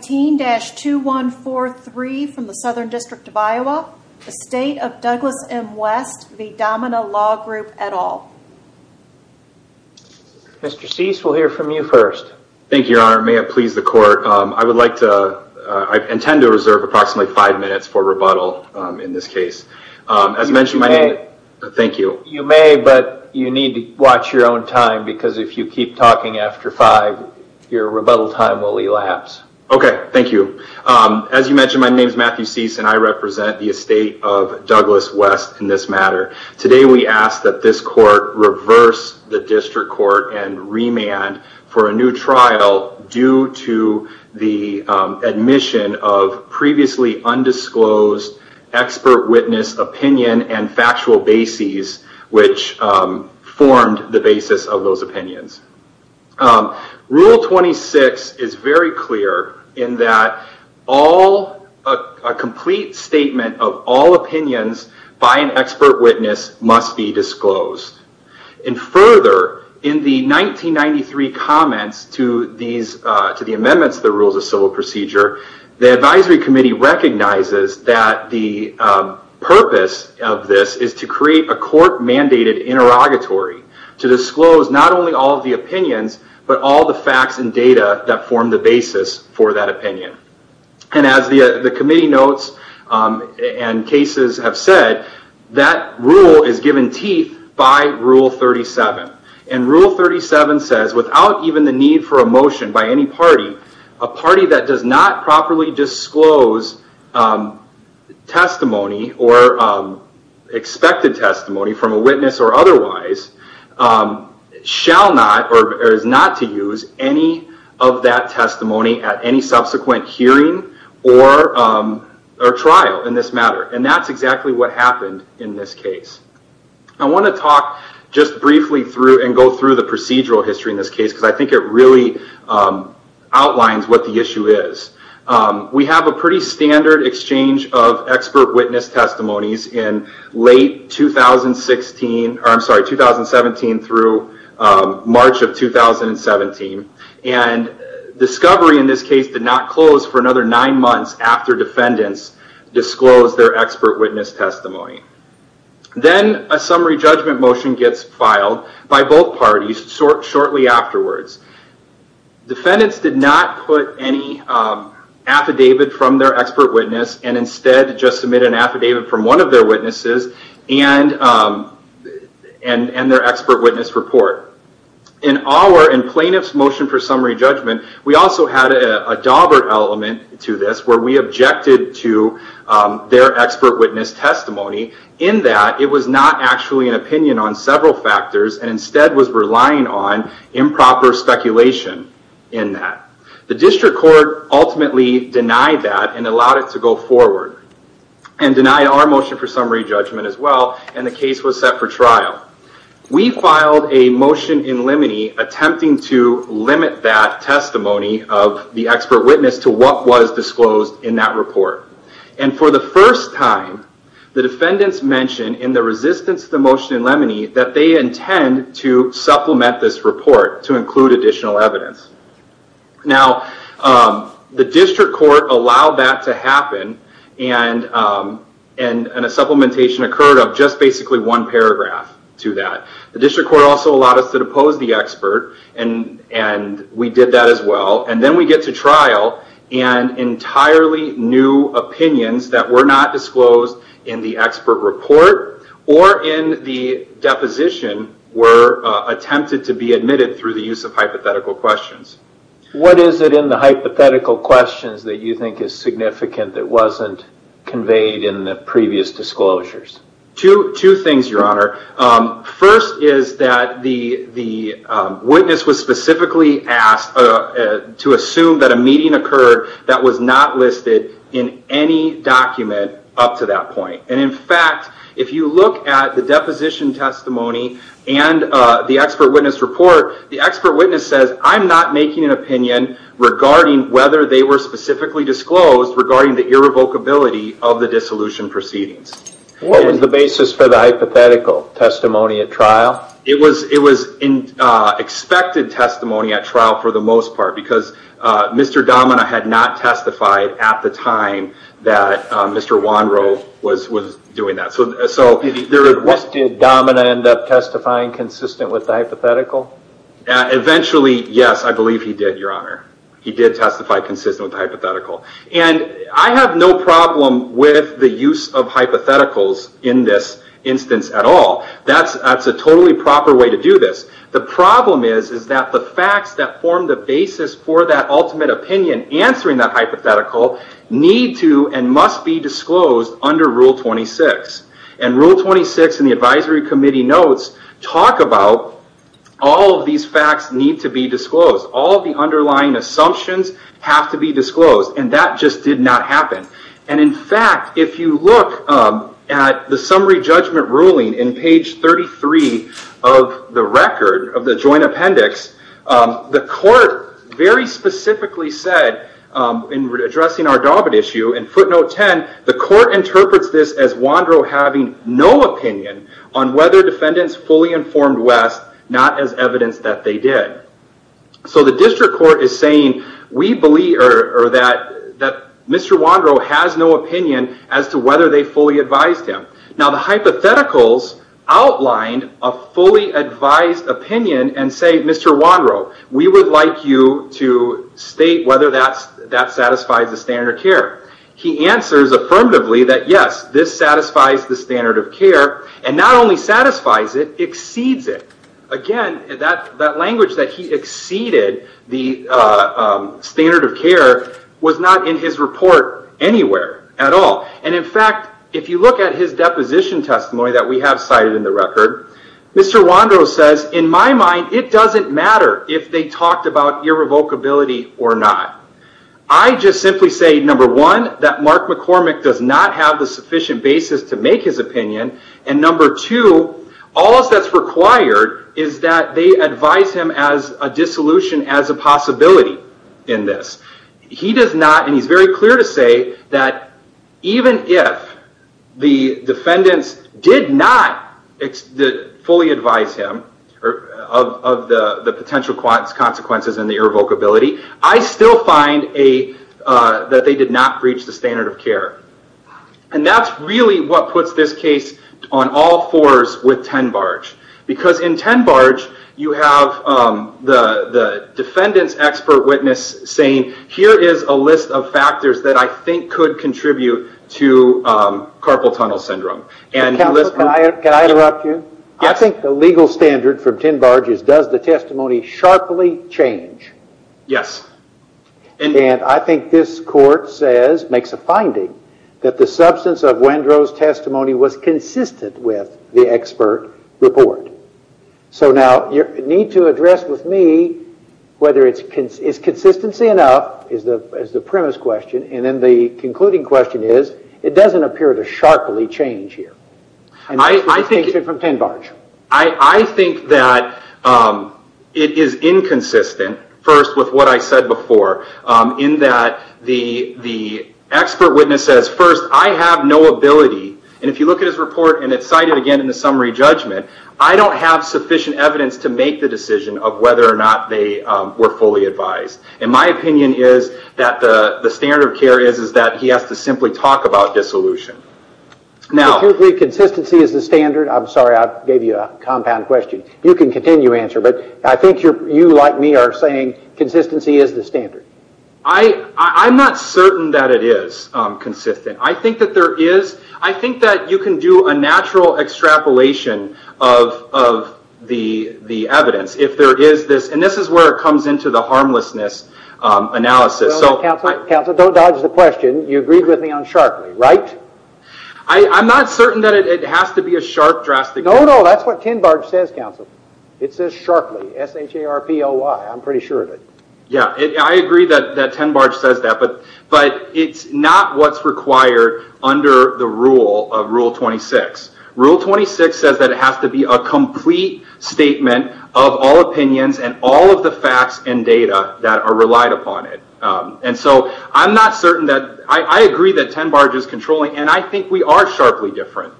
19-2143 from the Southern District of Iowa, the State of Douglas M. West v. Domina Law Group, et al. Mr. Cease, we'll hear from you first. Thank you, Your Honor. May it please the Court, I would like to, I intend to reserve approximately five minutes for rebuttal in this case. As mentioned, my name is- You may. Thank you. You may, but you need to watch your own time because if you keep talking after five, your rebuttal time will elapse. Okay. Thank you. As you mentioned, my name is Matthew Cease, and I represent the Estate of Douglas West in this matter. Today, we ask that this Court reverse the District Court and remand for a new trial due to the admission of previously undisclosed expert witness opinion and factual bases, which formed the basis of those opinions. Rule 26 is very clear in that a complete statement of all opinions by an expert witness must be disclosed. Further, in the 1993 comments to the amendments to the Rules of Civil Procedure, the Advisory Committee recognizes that the purpose of this is to create a court-mandated interrogatory to disclose not only all of the opinions, but all the facts and data that form the basis for that opinion. As the Committee notes and cases have said, that rule is given teeth by Rule 37. Rule 37 says, without even the need for a motion by any party, a party that does not properly disclose testimony or expected testimony from a witness or otherwise, shall not or is not to use any of that testimony at any subsequent hearing or trial in this matter. That's exactly what happened in this case. I want to talk just briefly through and go through the procedural history in this case, because I think it really outlines what the issue is. We have a pretty standard exchange of expert witness testimonies in late 2017 through March of 2017. Discovery in this case did not close for another nine months after defendants disclosed their expert witness testimony. Then a summary judgment motion gets filed by both parties shortly afterwards. Defendants did not put any affidavit from their expert witness and instead just submit an affidavit from one of their witnesses and their expert witness report. In plaintiff's motion for summary judgment, we also had a dauber element to this where we objected to their expert witness testimony in that it was not actually an opinion on several factors and instead was relying on improper speculation in that. The district court ultimately denied that and allowed it to go forward and denied our motion for summary judgment as well and the case was set for trial. We filed a motion in limine attempting to limit that testimony of the expert witness to what was disclosed in that report. For the first time, the defendants mentioned in the resistance to the motion in limine that they intend to supplement this report to include additional evidence. The district court allowed that to happen and a supplementation occurred of just basically one paragraph to that. The district court also allowed us to depose the expert and we did that as well. Then we get to trial and entirely new opinions that were not disclosed in the expert report or in the deposition were attempted to be admitted through the use of hypothetical questions. What is it in the hypothetical questions that you think is significant that wasn't conveyed in the previous disclosures? Two things, your honor. First is that the witness was specifically asked to assume that a meeting occurred that was not listed in any document up to that point. In fact, if you look at the deposition testimony and the expert witness report, the expert witness says, I'm not making an opinion regarding whether they were specifically disclosed regarding the irrevocability of the dissolution proceedings. What was the basis for the hypothetical testimony at trial? It was expected testimony at trial for the most part because Mr. Domina had not testified at the time that Mr. Wanro was doing that. Did Domina end up testifying consistent with the hypothetical? Eventually, yes, I believe he did, your honor. He did testify consistent with the hypothetical. I have no problem with the use of hypotheticals in this instance at all. That's a totally proper way to do this. The problem is that the facts that form the basis for that ultimate opinion answering that hypothetical need to and must be disclosed under Rule 26. Rule 26 in the advisory committee notes talk about all of these facts need to be disclosed. All of the underlying assumptions have to be disclosed. That just did not happen. In fact, if you look at the summary judgment ruling in page 33 of the record of the joint appendix, the court very specifically said in addressing our Daubin issue in footnote 10, the court interprets this as Wanro having no opinion on whether defendants fully informed as evidence that they did. The district court is saying that Mr. Wanro has no opinion as to whether they fully advised him. Now, the hypotheticals outlined a fully advised opinion and say, Mr. Wanro, we would like you to state whether that satisfies the standard of care. He answers affirmatively that yes, this satisfies the standard of care and not only satisfies it, exceeds it. Again, that language that he exceeded the standard of care was not in his report anywhere at all. In fact, if you look at his deposition testimony that we have cited in the record, Mr. Wanro says, in my mind, it doesn't matter if they talked about irrevocability or not. I just simply say, number one, that Mark McCormick does not have the sufficient basis to make his opinion, and number two, all that's required is that they advise him as a dissolution as a possibility in this. He does not, and he's very clear to say, that even if the defendants did not fully advise him of the potential consequences and the irrevocability, I still find that they did not breach the standard of care. And that's really what puts this case on all fours with Tenbarge. Because in Tenbarge, you have the defendant's expert witness saying, here is a list of factors that I think could contribute to carpal tunnel syndrome. Counselor, can I interrupt you? I think the legal standard for Tenbarge is, does the testimony sharply change? Yes. And I think this court says, makes a finding, that the substance of Wanro's testimony was consistent with the expert report. So now, you need to address with me whether it's consistency enough, is the premise question, and then the concluding question is, it doesn't appear to sharply change here. And that's the distinction from Tenbarge. I think that it is inconsistent, first with what I said before, in that the expert witness says first, I have no ability, and if you look at his report, and it's cited again in the summary judgment, I don't have sufficient evidence to make the decision of whether or not they were fully advised. And my opinion is that the standard of care is that he has to simply talk about dissolution. Now, if you agree consistency is the standard, I'm sorry, I gave you a compound question. You can continue to answer, but I think you, like me, are saying consistency is the standard. I'm not certain that it is consistent. I think that there is, I think that you can do a natural extrapolation of the evidence if there is this, and this is where it comes into the harmlessness analysis. Counselor, don't dodge the question. You agreed with me on sharply, right? I'm not certain that it has to be a sharp drastic change. No, no, that's what Tenbarge says, Counselor. It says sharply, S-H-A-R-P-O-Y. I'm pretty sure of it. Yeah, I agree that Tenbarge says that, but it's not what's required under the rule of Rule 26. Rule 26 says that it has to be a complete statement of all opinions and all of the facts and data that are relied upon it. I'm not certain that... I agree that Tenbarge is controlling, and I think we are sharply different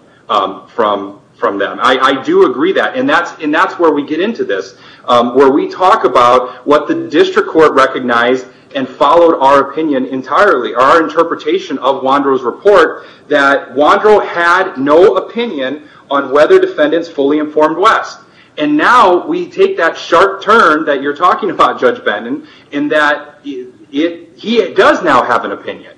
from them. I do agree that, and that's where we get into this, where we talk about what the district court recognized and followed our opinion entirely, our interpretation of Wondro's report, that Wondro had no opinion on whether defendants fully informed West, and now we take that he does now have an opinion.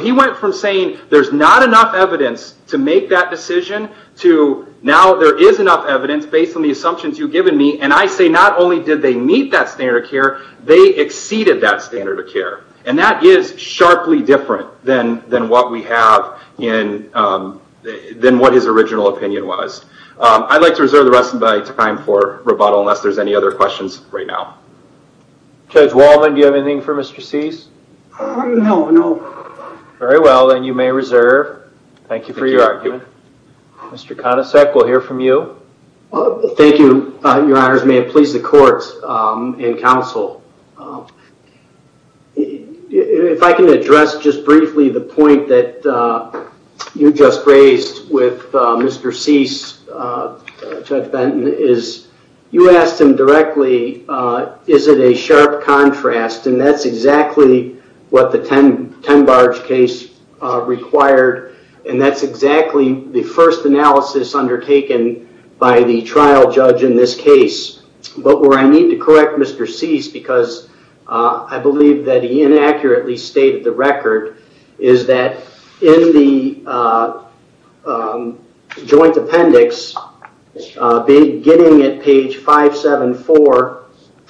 He went from saying there's not enough evidence to make that decision to now there is enough evidence based on the assumptions you've given me, and I say not only did they meet that standard of care, they exceeded that standard of care. That is sharply different than what we have in... than what his original opinion was. I'd like to reserve the rest of my time for rebuttal unless there's any other questions right now. Judge Waldman, do you have anything for Mr. Cease? No, no. Very well. Then you may reserve. Thank you for your argument. Thank you. Mr. Konicek, we'll hear from you. Thank you, your honors. May it please the court and counsel. If I can address just briefly the point that you just raised with Mr. Cease, Judge Benton, is you asked him directly, is it a sharp contrast? That's exactly what the Tenbarge case required, and that's exactly the first analysis undertaken by the trial judge in this case. Where I need to correct Mr. Cease, because I believe that he inaccurately stated the beginning at page 574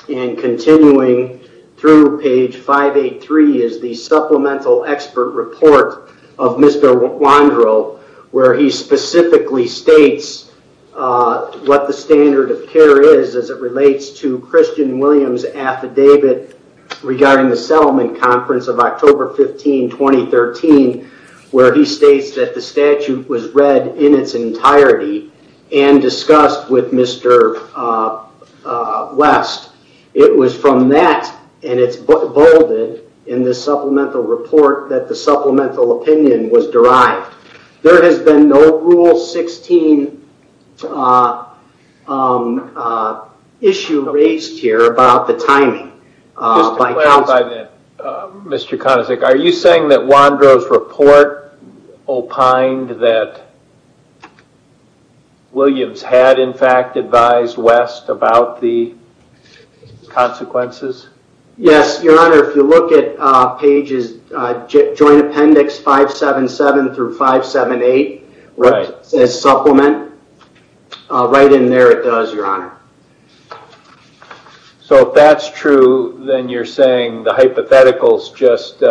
and continuing through page 583 is the supplemental expert report of Mr. Wandro, where he specifically states what the standard of care is as it relates to Christian Williams' affidavit regarding the settlement conference of October 15, 2013, where he states that the statute was read in its entirety and discussed with Mr. West. It was from that, and it's bolded in the supplemental report, that the supplemental opinion was derived. There has been no Rule 16 issue raised here about the timing. Just to clarify that, Mr. Konacic, are you saying that Wandro's report opined that Williams had in fact advised West about the consequences? Yes, Your Honor. If you look at pages, Joint Appendix 577 through 578, where it says supplement, right in there it does, Your Honor. If that's true, then you're saying the hypotheticals just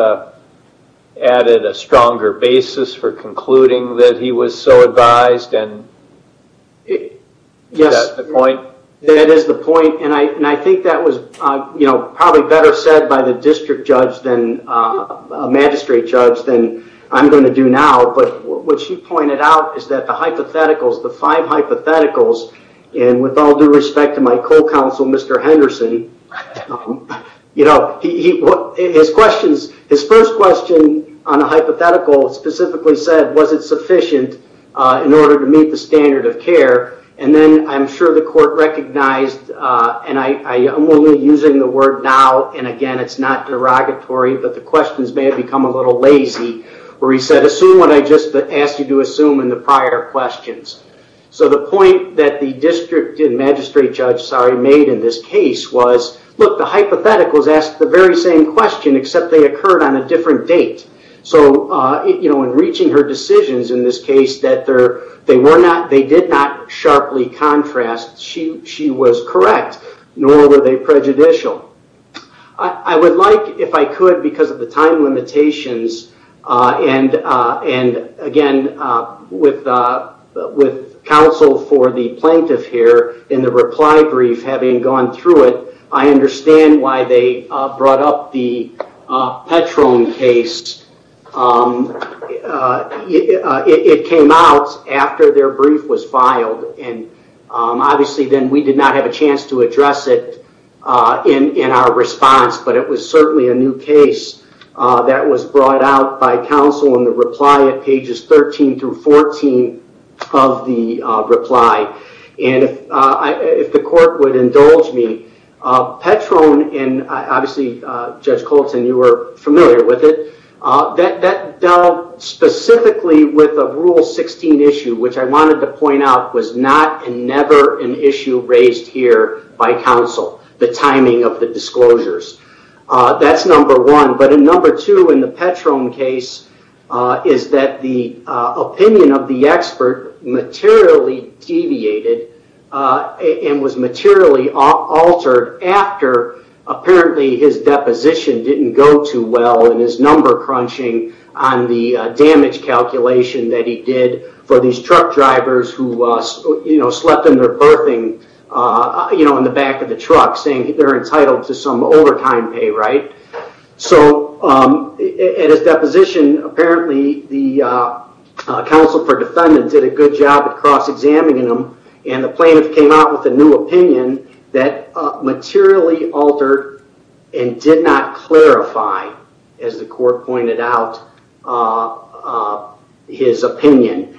added a stronger basis for concluding that he was so advised, and is that the point? Yes. That is the point. I think that was probably better said by the district judge, a magistrate judge, than I'm going to do now, but what she pointed out is that the hypotheticals, the five hypotheticals, and with all due respect to my co-counsel, Mr. Henderson, his first question on the hypothetical specifically said, was it sufficient in order to meet the standard of care? Then I'm sure the court recognized, and I'm only using the word now, and again, it's not derogatory, but the questions may have become a little lazy, where he said, assume what I just asked you to assume in the prior questions. The point that the district and magistrate judge made in this case was, look, the hypotheticals asked the very same question, except they occurred on a different date, so in reaching her decisions in this case that they did not sharply contrast, she was correct, nor were they prejudicial. I would like, if I could, because of the time limitations, and again, with counsel for the plaintiff here in the reply brief having gone through it, I understand why they brought up the Petron case. It came out after their brief was filed, and obviously then we did not have a chance to in our response, but it was certainly a new case that was brought out by counsel in the reply at pages 13 through 14 of the reply. If the court would indulge me, Petron, and obviously Judge Colton, you were familiar with it, that dealt specifically with a Rule 16 issue, which I wanted to point out was not and never an issue raised here by counsel, the timing of the disclosures. That's number one, but number two in the Petron case is that the opinion of the expert materially deviated and was materially altered after apparently his deposition didn't go too well in his number crunching on the damage calculation that he did for these truck drivers who slept in their berthing in the back of the truck, saying they're entitled to some overtime pay. At his deposition, apparently the counsel for defendant did a good job of cross-examining him, and the plaintiff came out with a new opinion that materially altered and did not clarify, as the court pointed out, his opinion.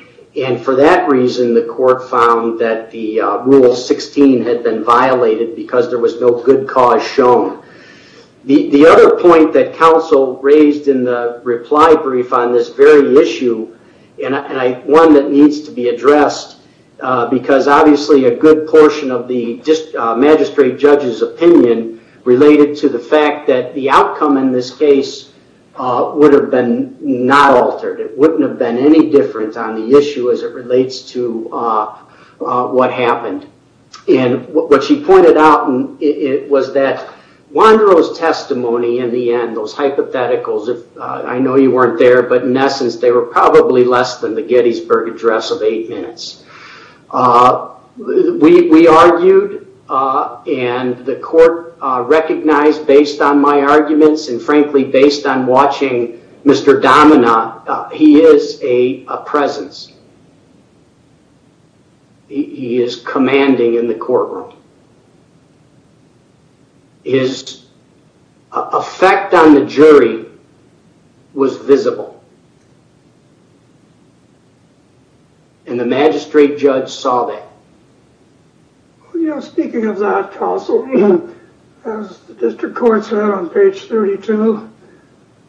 For that reason, the court found that the Rule 16 had been violated because there was no good cause shown. The other point that counsel raised in the reply brief on this very issue, and one that obviously a good portion of the magistrate judge's opinion related to the fact that the outcome in this case would have been not altered. It wouldn't have been any different on the issue as it relates to what happened. What she pointed out was that Wanderow's testimony in the end, those hypotheticals, I know you weren't there, but in essence, they were probably less than the Gettysburg Address of eight minutes. We argued, and the court recognized based on my arguments and frankly based on watching Mr. Dominant, he is a presence. He is commanding in the courtroom. His effect on the jury was visible. And the magistrate judge saw that. Speaking of that, counsel, as the district court said on page 32,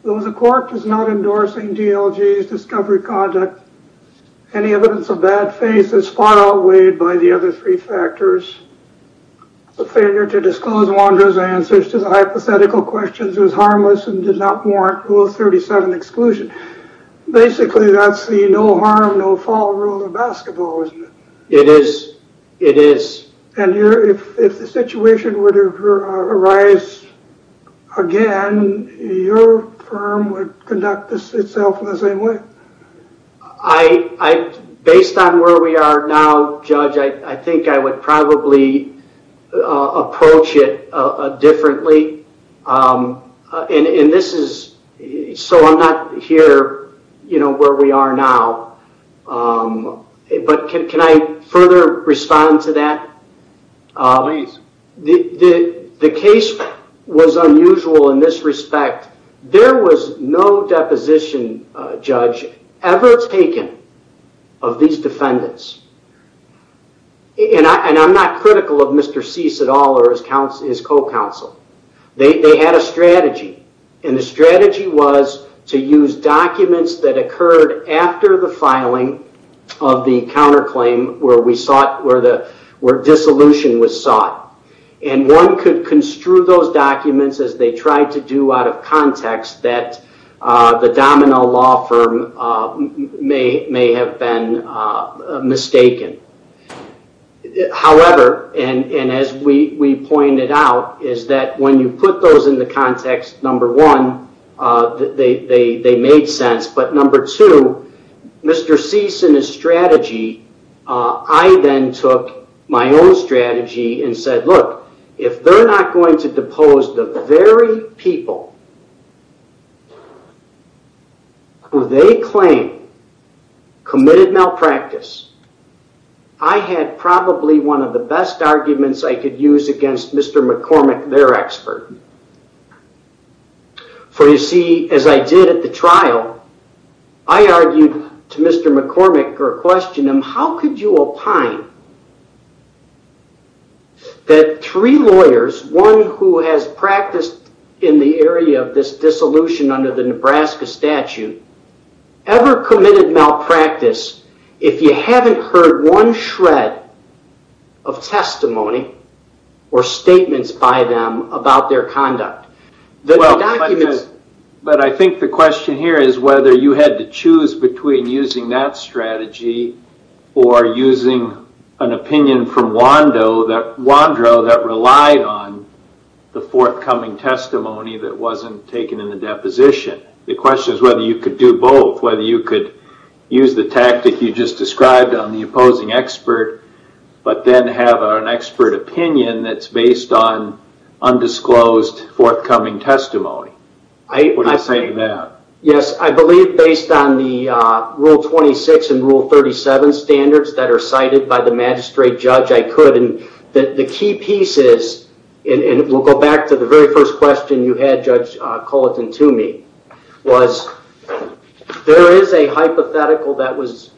though the court is not endorsing DLG's discovery conduct, any evidence of bad faith is far outweighed by the other three factors. The failure to disclose Wanderow's answers to the hypothetical questions was harmless and did not warrant Rule 37 exclusion. Basically, that's the no harm, no fall rule of basketball, isn't it? It is. It is. And if the situation were to arise again, your firm would conduct itself in the same way. Based on where we are now, Judge, I think I would probably approach it differently. And this is, so I'm not here, you know, where we are now, but can I further respond to that? Please. The case was unusual in this respect. There was no deposition, Judge, ever taken of these defendants. And I'm not critical of Mr. Cease at all or his co-counsel. They had a strategy, and the strategy was to use documents that occurred after the filing of the counterclaim where dissolution was sought. And one could construe those documents as they tried to do out of context that the Domino law firm may have been mistaken. However, and as we pointed out, is that when you put those in the context, number one, they made sense. But number two, Mr. Cease and his strategy, I then took my own strategy and said, look, if they're not going to depose the very people who they claim committed malpractice, I had probably one of the best arguments I could use against Mr. McCormick, their expert. For you see, as I did at the trial, I argued to Mr. McCormick or questioned him, how could you opine that three lawyers, one who has practiced in the area of this dissolution under the Nebraska statute, ever committed malpractice if you haven't heard one shred of testimony or statements by them about their conduct? But I think the question here is whether you had to choose between using that strategy or using an opinion from Wando that relied on the forthcoming testimony that wasn't taken in the deposition. The question is whether you could do both, whether you could use the tactic you just described on the opposing expert, but then have an expert opinion that's based on undisclosed forthcoming testimony. What do you say to that? Yes, I believe based on the Rule 26 and Rule 37 standards that are cited by the magistrate judge, I could. The key piece is, and we'll go back to the very first question you had, Judge Culleton, to me, was there is a hypothetical that was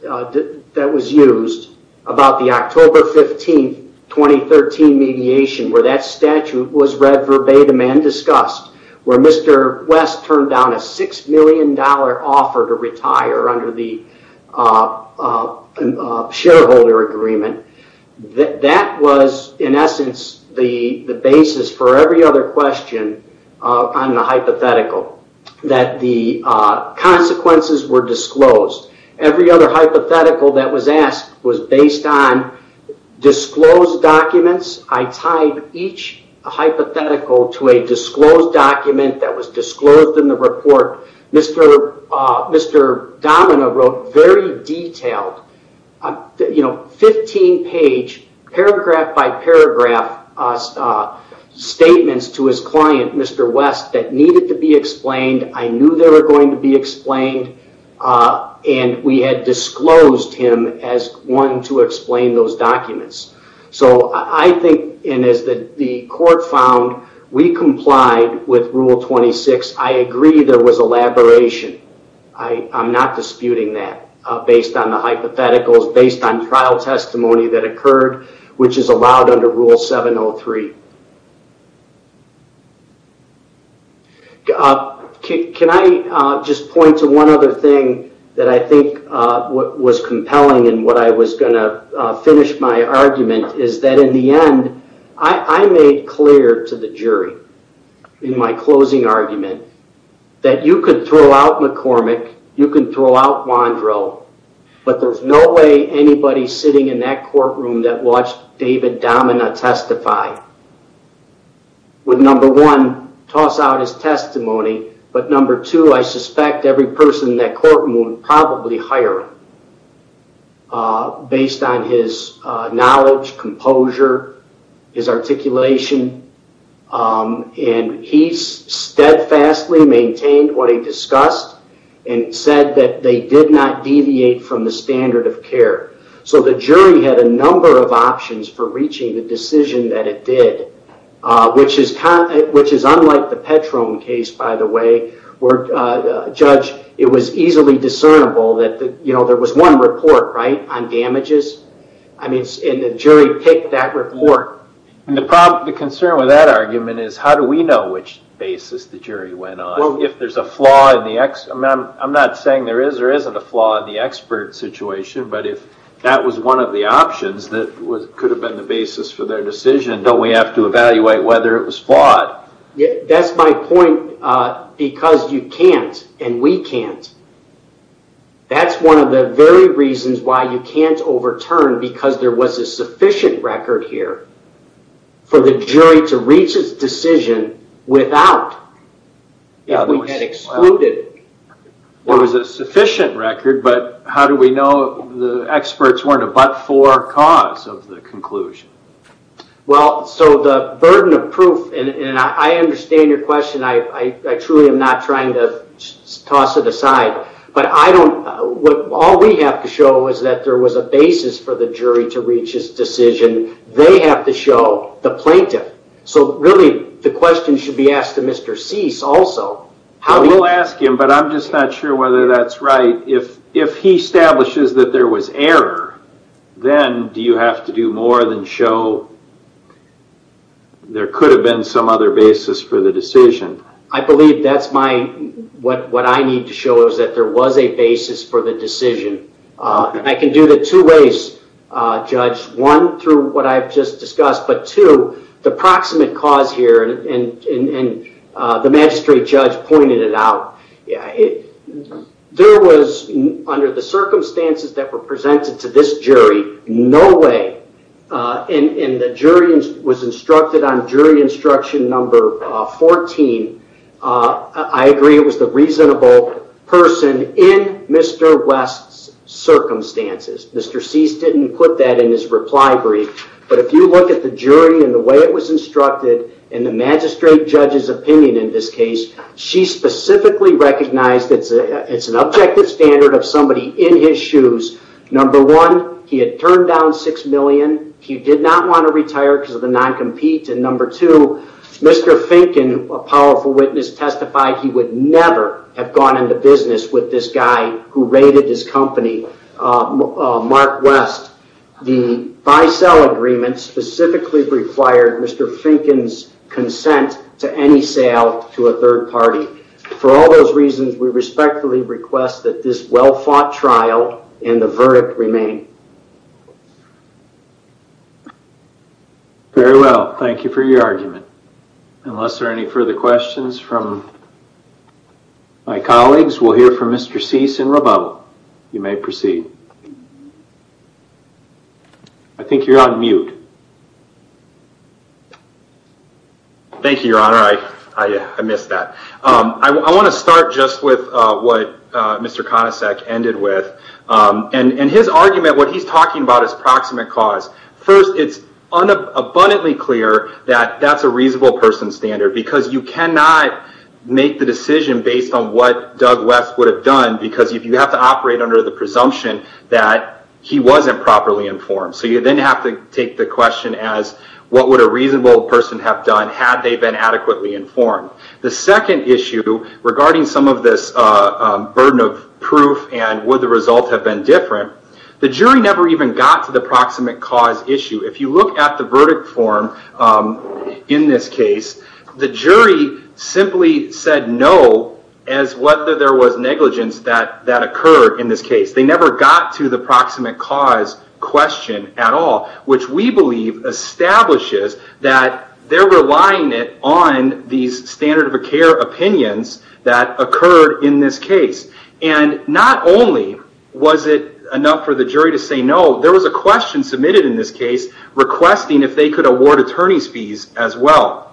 used about the October 15, 2013 mediation where that statute was read verbatim and discussed, where Mr. West turned down a $6 million offer to retire under the shareholder agreement. That was in essence the basis for every other question on the hypothetical, that the consequences were disclosed. Every other hypothetical that was asked was based on disclosed documents. I tied each hypothetical to a disclosed document that was disclosed in the report. Mr. Domina wrote very detailed, 15-page, paragraph by paragraph statements to his client, Mr. West, that needed to be explained. I knew they were going to be explained, and we had disclosed him as wanting to explain those documents. I think, and as the court found, we complied with Rule 26. I agree there was elaboration. I'm not disputing that based on the hypotheticals, based on trial testimony that occurred, which is allowed under Rule 703. Can I just point to one other thing that I think was compelling in what I was going to finish my argument, is that in the end, I made clear to the jury in my closing argument that you could throw out McCormick, you could throw out Wondro, but there's no way anybody sitting in that courtroom that watched David Domina testify would, number one, toss out his testimony, but number two, I suspect every person in that courtroom would probably hire him based on his knowledge, composure, his articulation, and he steadfastly maintained what he discussed and said that they did not deviate from the standard of care. The jury had a number of options for reaching the decision that it did, which is unlike the Petrone case, by the way, where, Judge, it was easily discernible that there was one report on damages, and the jury picked that report. The concern with that argument is how do we know which basis the jury went on? If there's a flaw in the... I'm not saying there is or isn't a flaw in the expert situation, but if that was one of the options that could have been the basis for their decision, don't we have to evaluate whether it was flawed? That's my point, because you can't, and we can't. That's one of the very reasons why you can't overturn, because there was a sufficient record here for the jury to reach its decision without, if we had excluded... There was a sufficient record, but how do we know the experts weren't a but-for cause of the conclusion? Well, so the burden of proof, and I understand your question, I truly am not trying to toss it aside, but I don't... All we have to show is that there was a basis for the jury to reach its decision. They have to show the plaintiff, so really, the question should be asked to Mr. Cease also. We'll ask him, but I'm just not sure whether that's right. If he establishes that there was error, then do you have to do more than show there could have been some other basis for the decision? I believe that's my... What I need to show is that there was a basis for the decision. I can do that two ways, Judge. One, through what I've just discussed, but two, the proximate cause here, and the magistrate judge pointed it out. There was, under the circumstances that were presented to this jury, no way, and the jury was instructed on jury instruction number 14, I agree it was the reasonable person in Mr. West's circumstances. Mr. Cease didn't put that in his reply brief, but if you look at the jury and the way it was instructed, and the magistrate judge's opinion in this case, she specifically recognized it's an objective standard of somebody in his shoes. Number one, he had turned down six million. He did not want to retire because of the non-compete, and number two, Mr. Finken, a powerful witness, testified he would never have gone into business with this guy who raided his company, Mark West. The buy-sell agreement specifically required Mr. Finken's consent to any sale to a third party. For all those reasons, we respectfully request that this well-fought trial and the verdict remain. Very well. Thank you for your argument. Unless there are any further questions from my colleagues, we'll hear from Mr. Cease in rebuttal. You may proceed. I think you're on mute. Thank you, Your Honor. I missed that. I want to start just with what Mr. Conasec ended with. His argument, what he's talking about is proximate cause. First, it's abundantly clear that that's a reasonable person standard because you cannot make the decision based on what Doug West would have done because if you have to operate under the presumption that he wasn't properly informed, so you then have to take the question as what would a reasonable person have done had they been adequately informed? The second issue regarding some of this burden of proof and would the result have been different, the jury never even got to the proximate cause issue. If you look at the verdict form in this case, the jury simply said no as whether there was negligence that occurred in this case. They never got to the proximate cause question at all, which we believe establishes that they're relying on these standard of care opinions that occurred in this case. Not only was it enough for the jury to say no, there was a question submitted in this case requesting if they could award attorney's fees as well.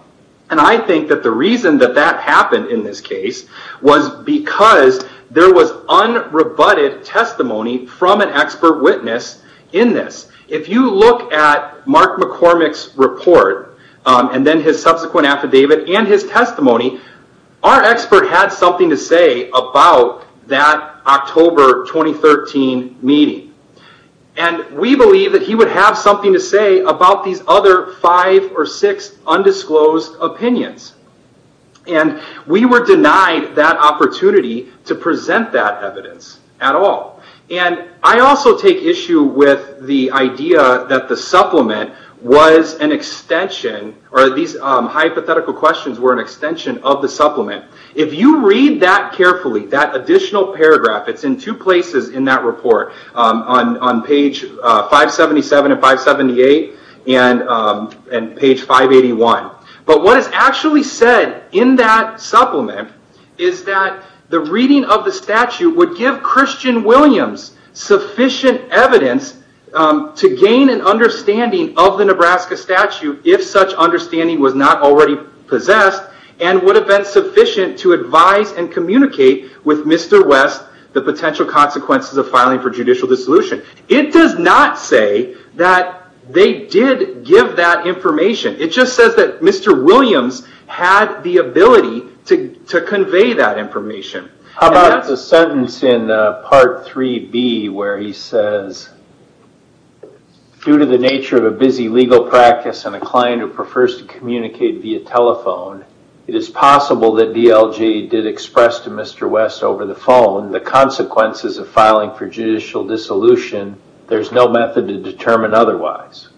I think that the reason that that happened in this case was because there was unrebutted testimony from an expert witness in this. If you look at Mark McCormick's report and then his subsequent affidavit and his testimony, our expert had something to say about that October 2013 meeting. We believe that he would have something to say about these other five or six undisclosed opinions. We were denied that opportunity to present that evidence at all. I also take issue with the idea that the supplement was an extension or these hypothetical questions were an extension of the supplement. If you read that carefully, that additional paragraph, it's in two places in that report on page 577 and 578 and page 581. What is actually said in that supplement is that the reading of the statute would give Christian Williams sufficient evidence to gain an understanding of the Nebraska statute if such understanding was not already possessed and would have been sufficient to advise and communicate with Mr. West the potential consequences of filing for judicial dissolution. It does not say that they did give that information. It just says that Mr. Williams had the ability to convey that information. How about the sentence in part 3B where he says, due to the nature of a busy legal practice and a client who prefers to communicate via telephone, it is possible that DLJ did express to Mr. West over the phone the consequences of filing for judicial dissolution. There's no method to determine otherwise.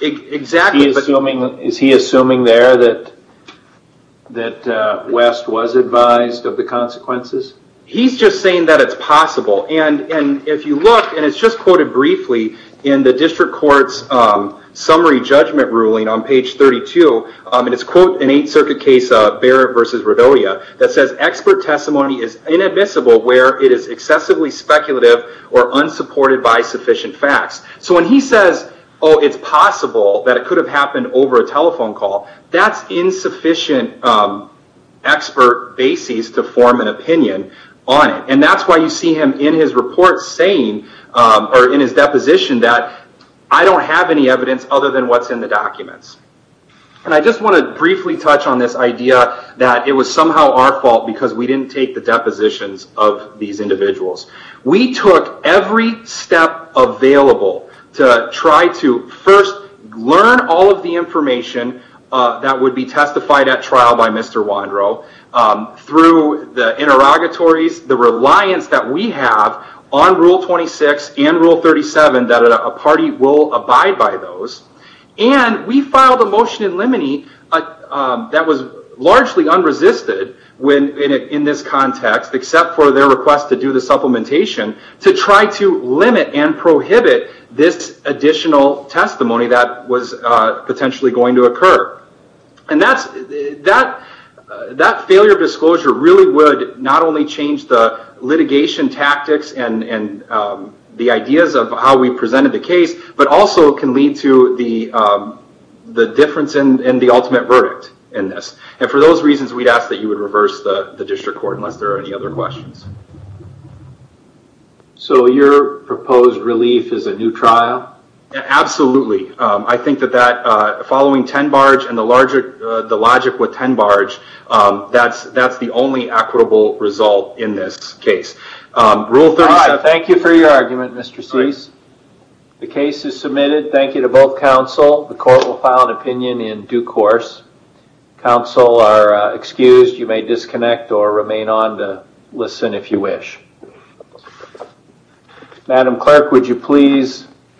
Is he assuming there that West was advised of the consequences? He's just saying that it's possible. If you look, and it's just quoted briefly in the district court's summary judgment ruling on page 32, and it's quoted in 8th Circuit case Barrett v. Rodolia, that says expert testimony is inadmissible where it is excessively speculative or unsupported by sufficient facts. When he says, oh, it's possible that it could have happened over a telephone call, that's insufficient expert basis to form an opinion on it. That's why you see him in his report saying, or in his deposition, that I don't have any evidence other than what's in the documents. I just want to briefly touch on this idea that it was somehow our fault because we didn't take the depositions of these individuals. We took every step available to try to first learn all of the information that would be on Rule 26 and Rule 37, that a party will abide by those. We filed a motion in limine that was largely unresisted in this context, except for their request to do the supplementation, to try to limit and prohibit this additional testimony that was potentially going to occur. That failure of disclosure really would not only change the litigation tactics and the ideas of how we presented the case, but also can lead to the difference in the ultimate verdict in this. For those reasons, we'd ask that you would reverse the district court, unless there are any other questions. So, your proposed relief is a new trial? Absolutely. I think that following 10 Barge and the logic with 10 Barge, that's the only equitable result in this case. Rule 37... All right. Thank you for your argument, Mr. Cease. The case is submitted. Thank you to both counsel. The court will file an opinion in due course. Counsel are excused. You may disconnect or remain on to listen if you wish. Madam Clerk, would you please...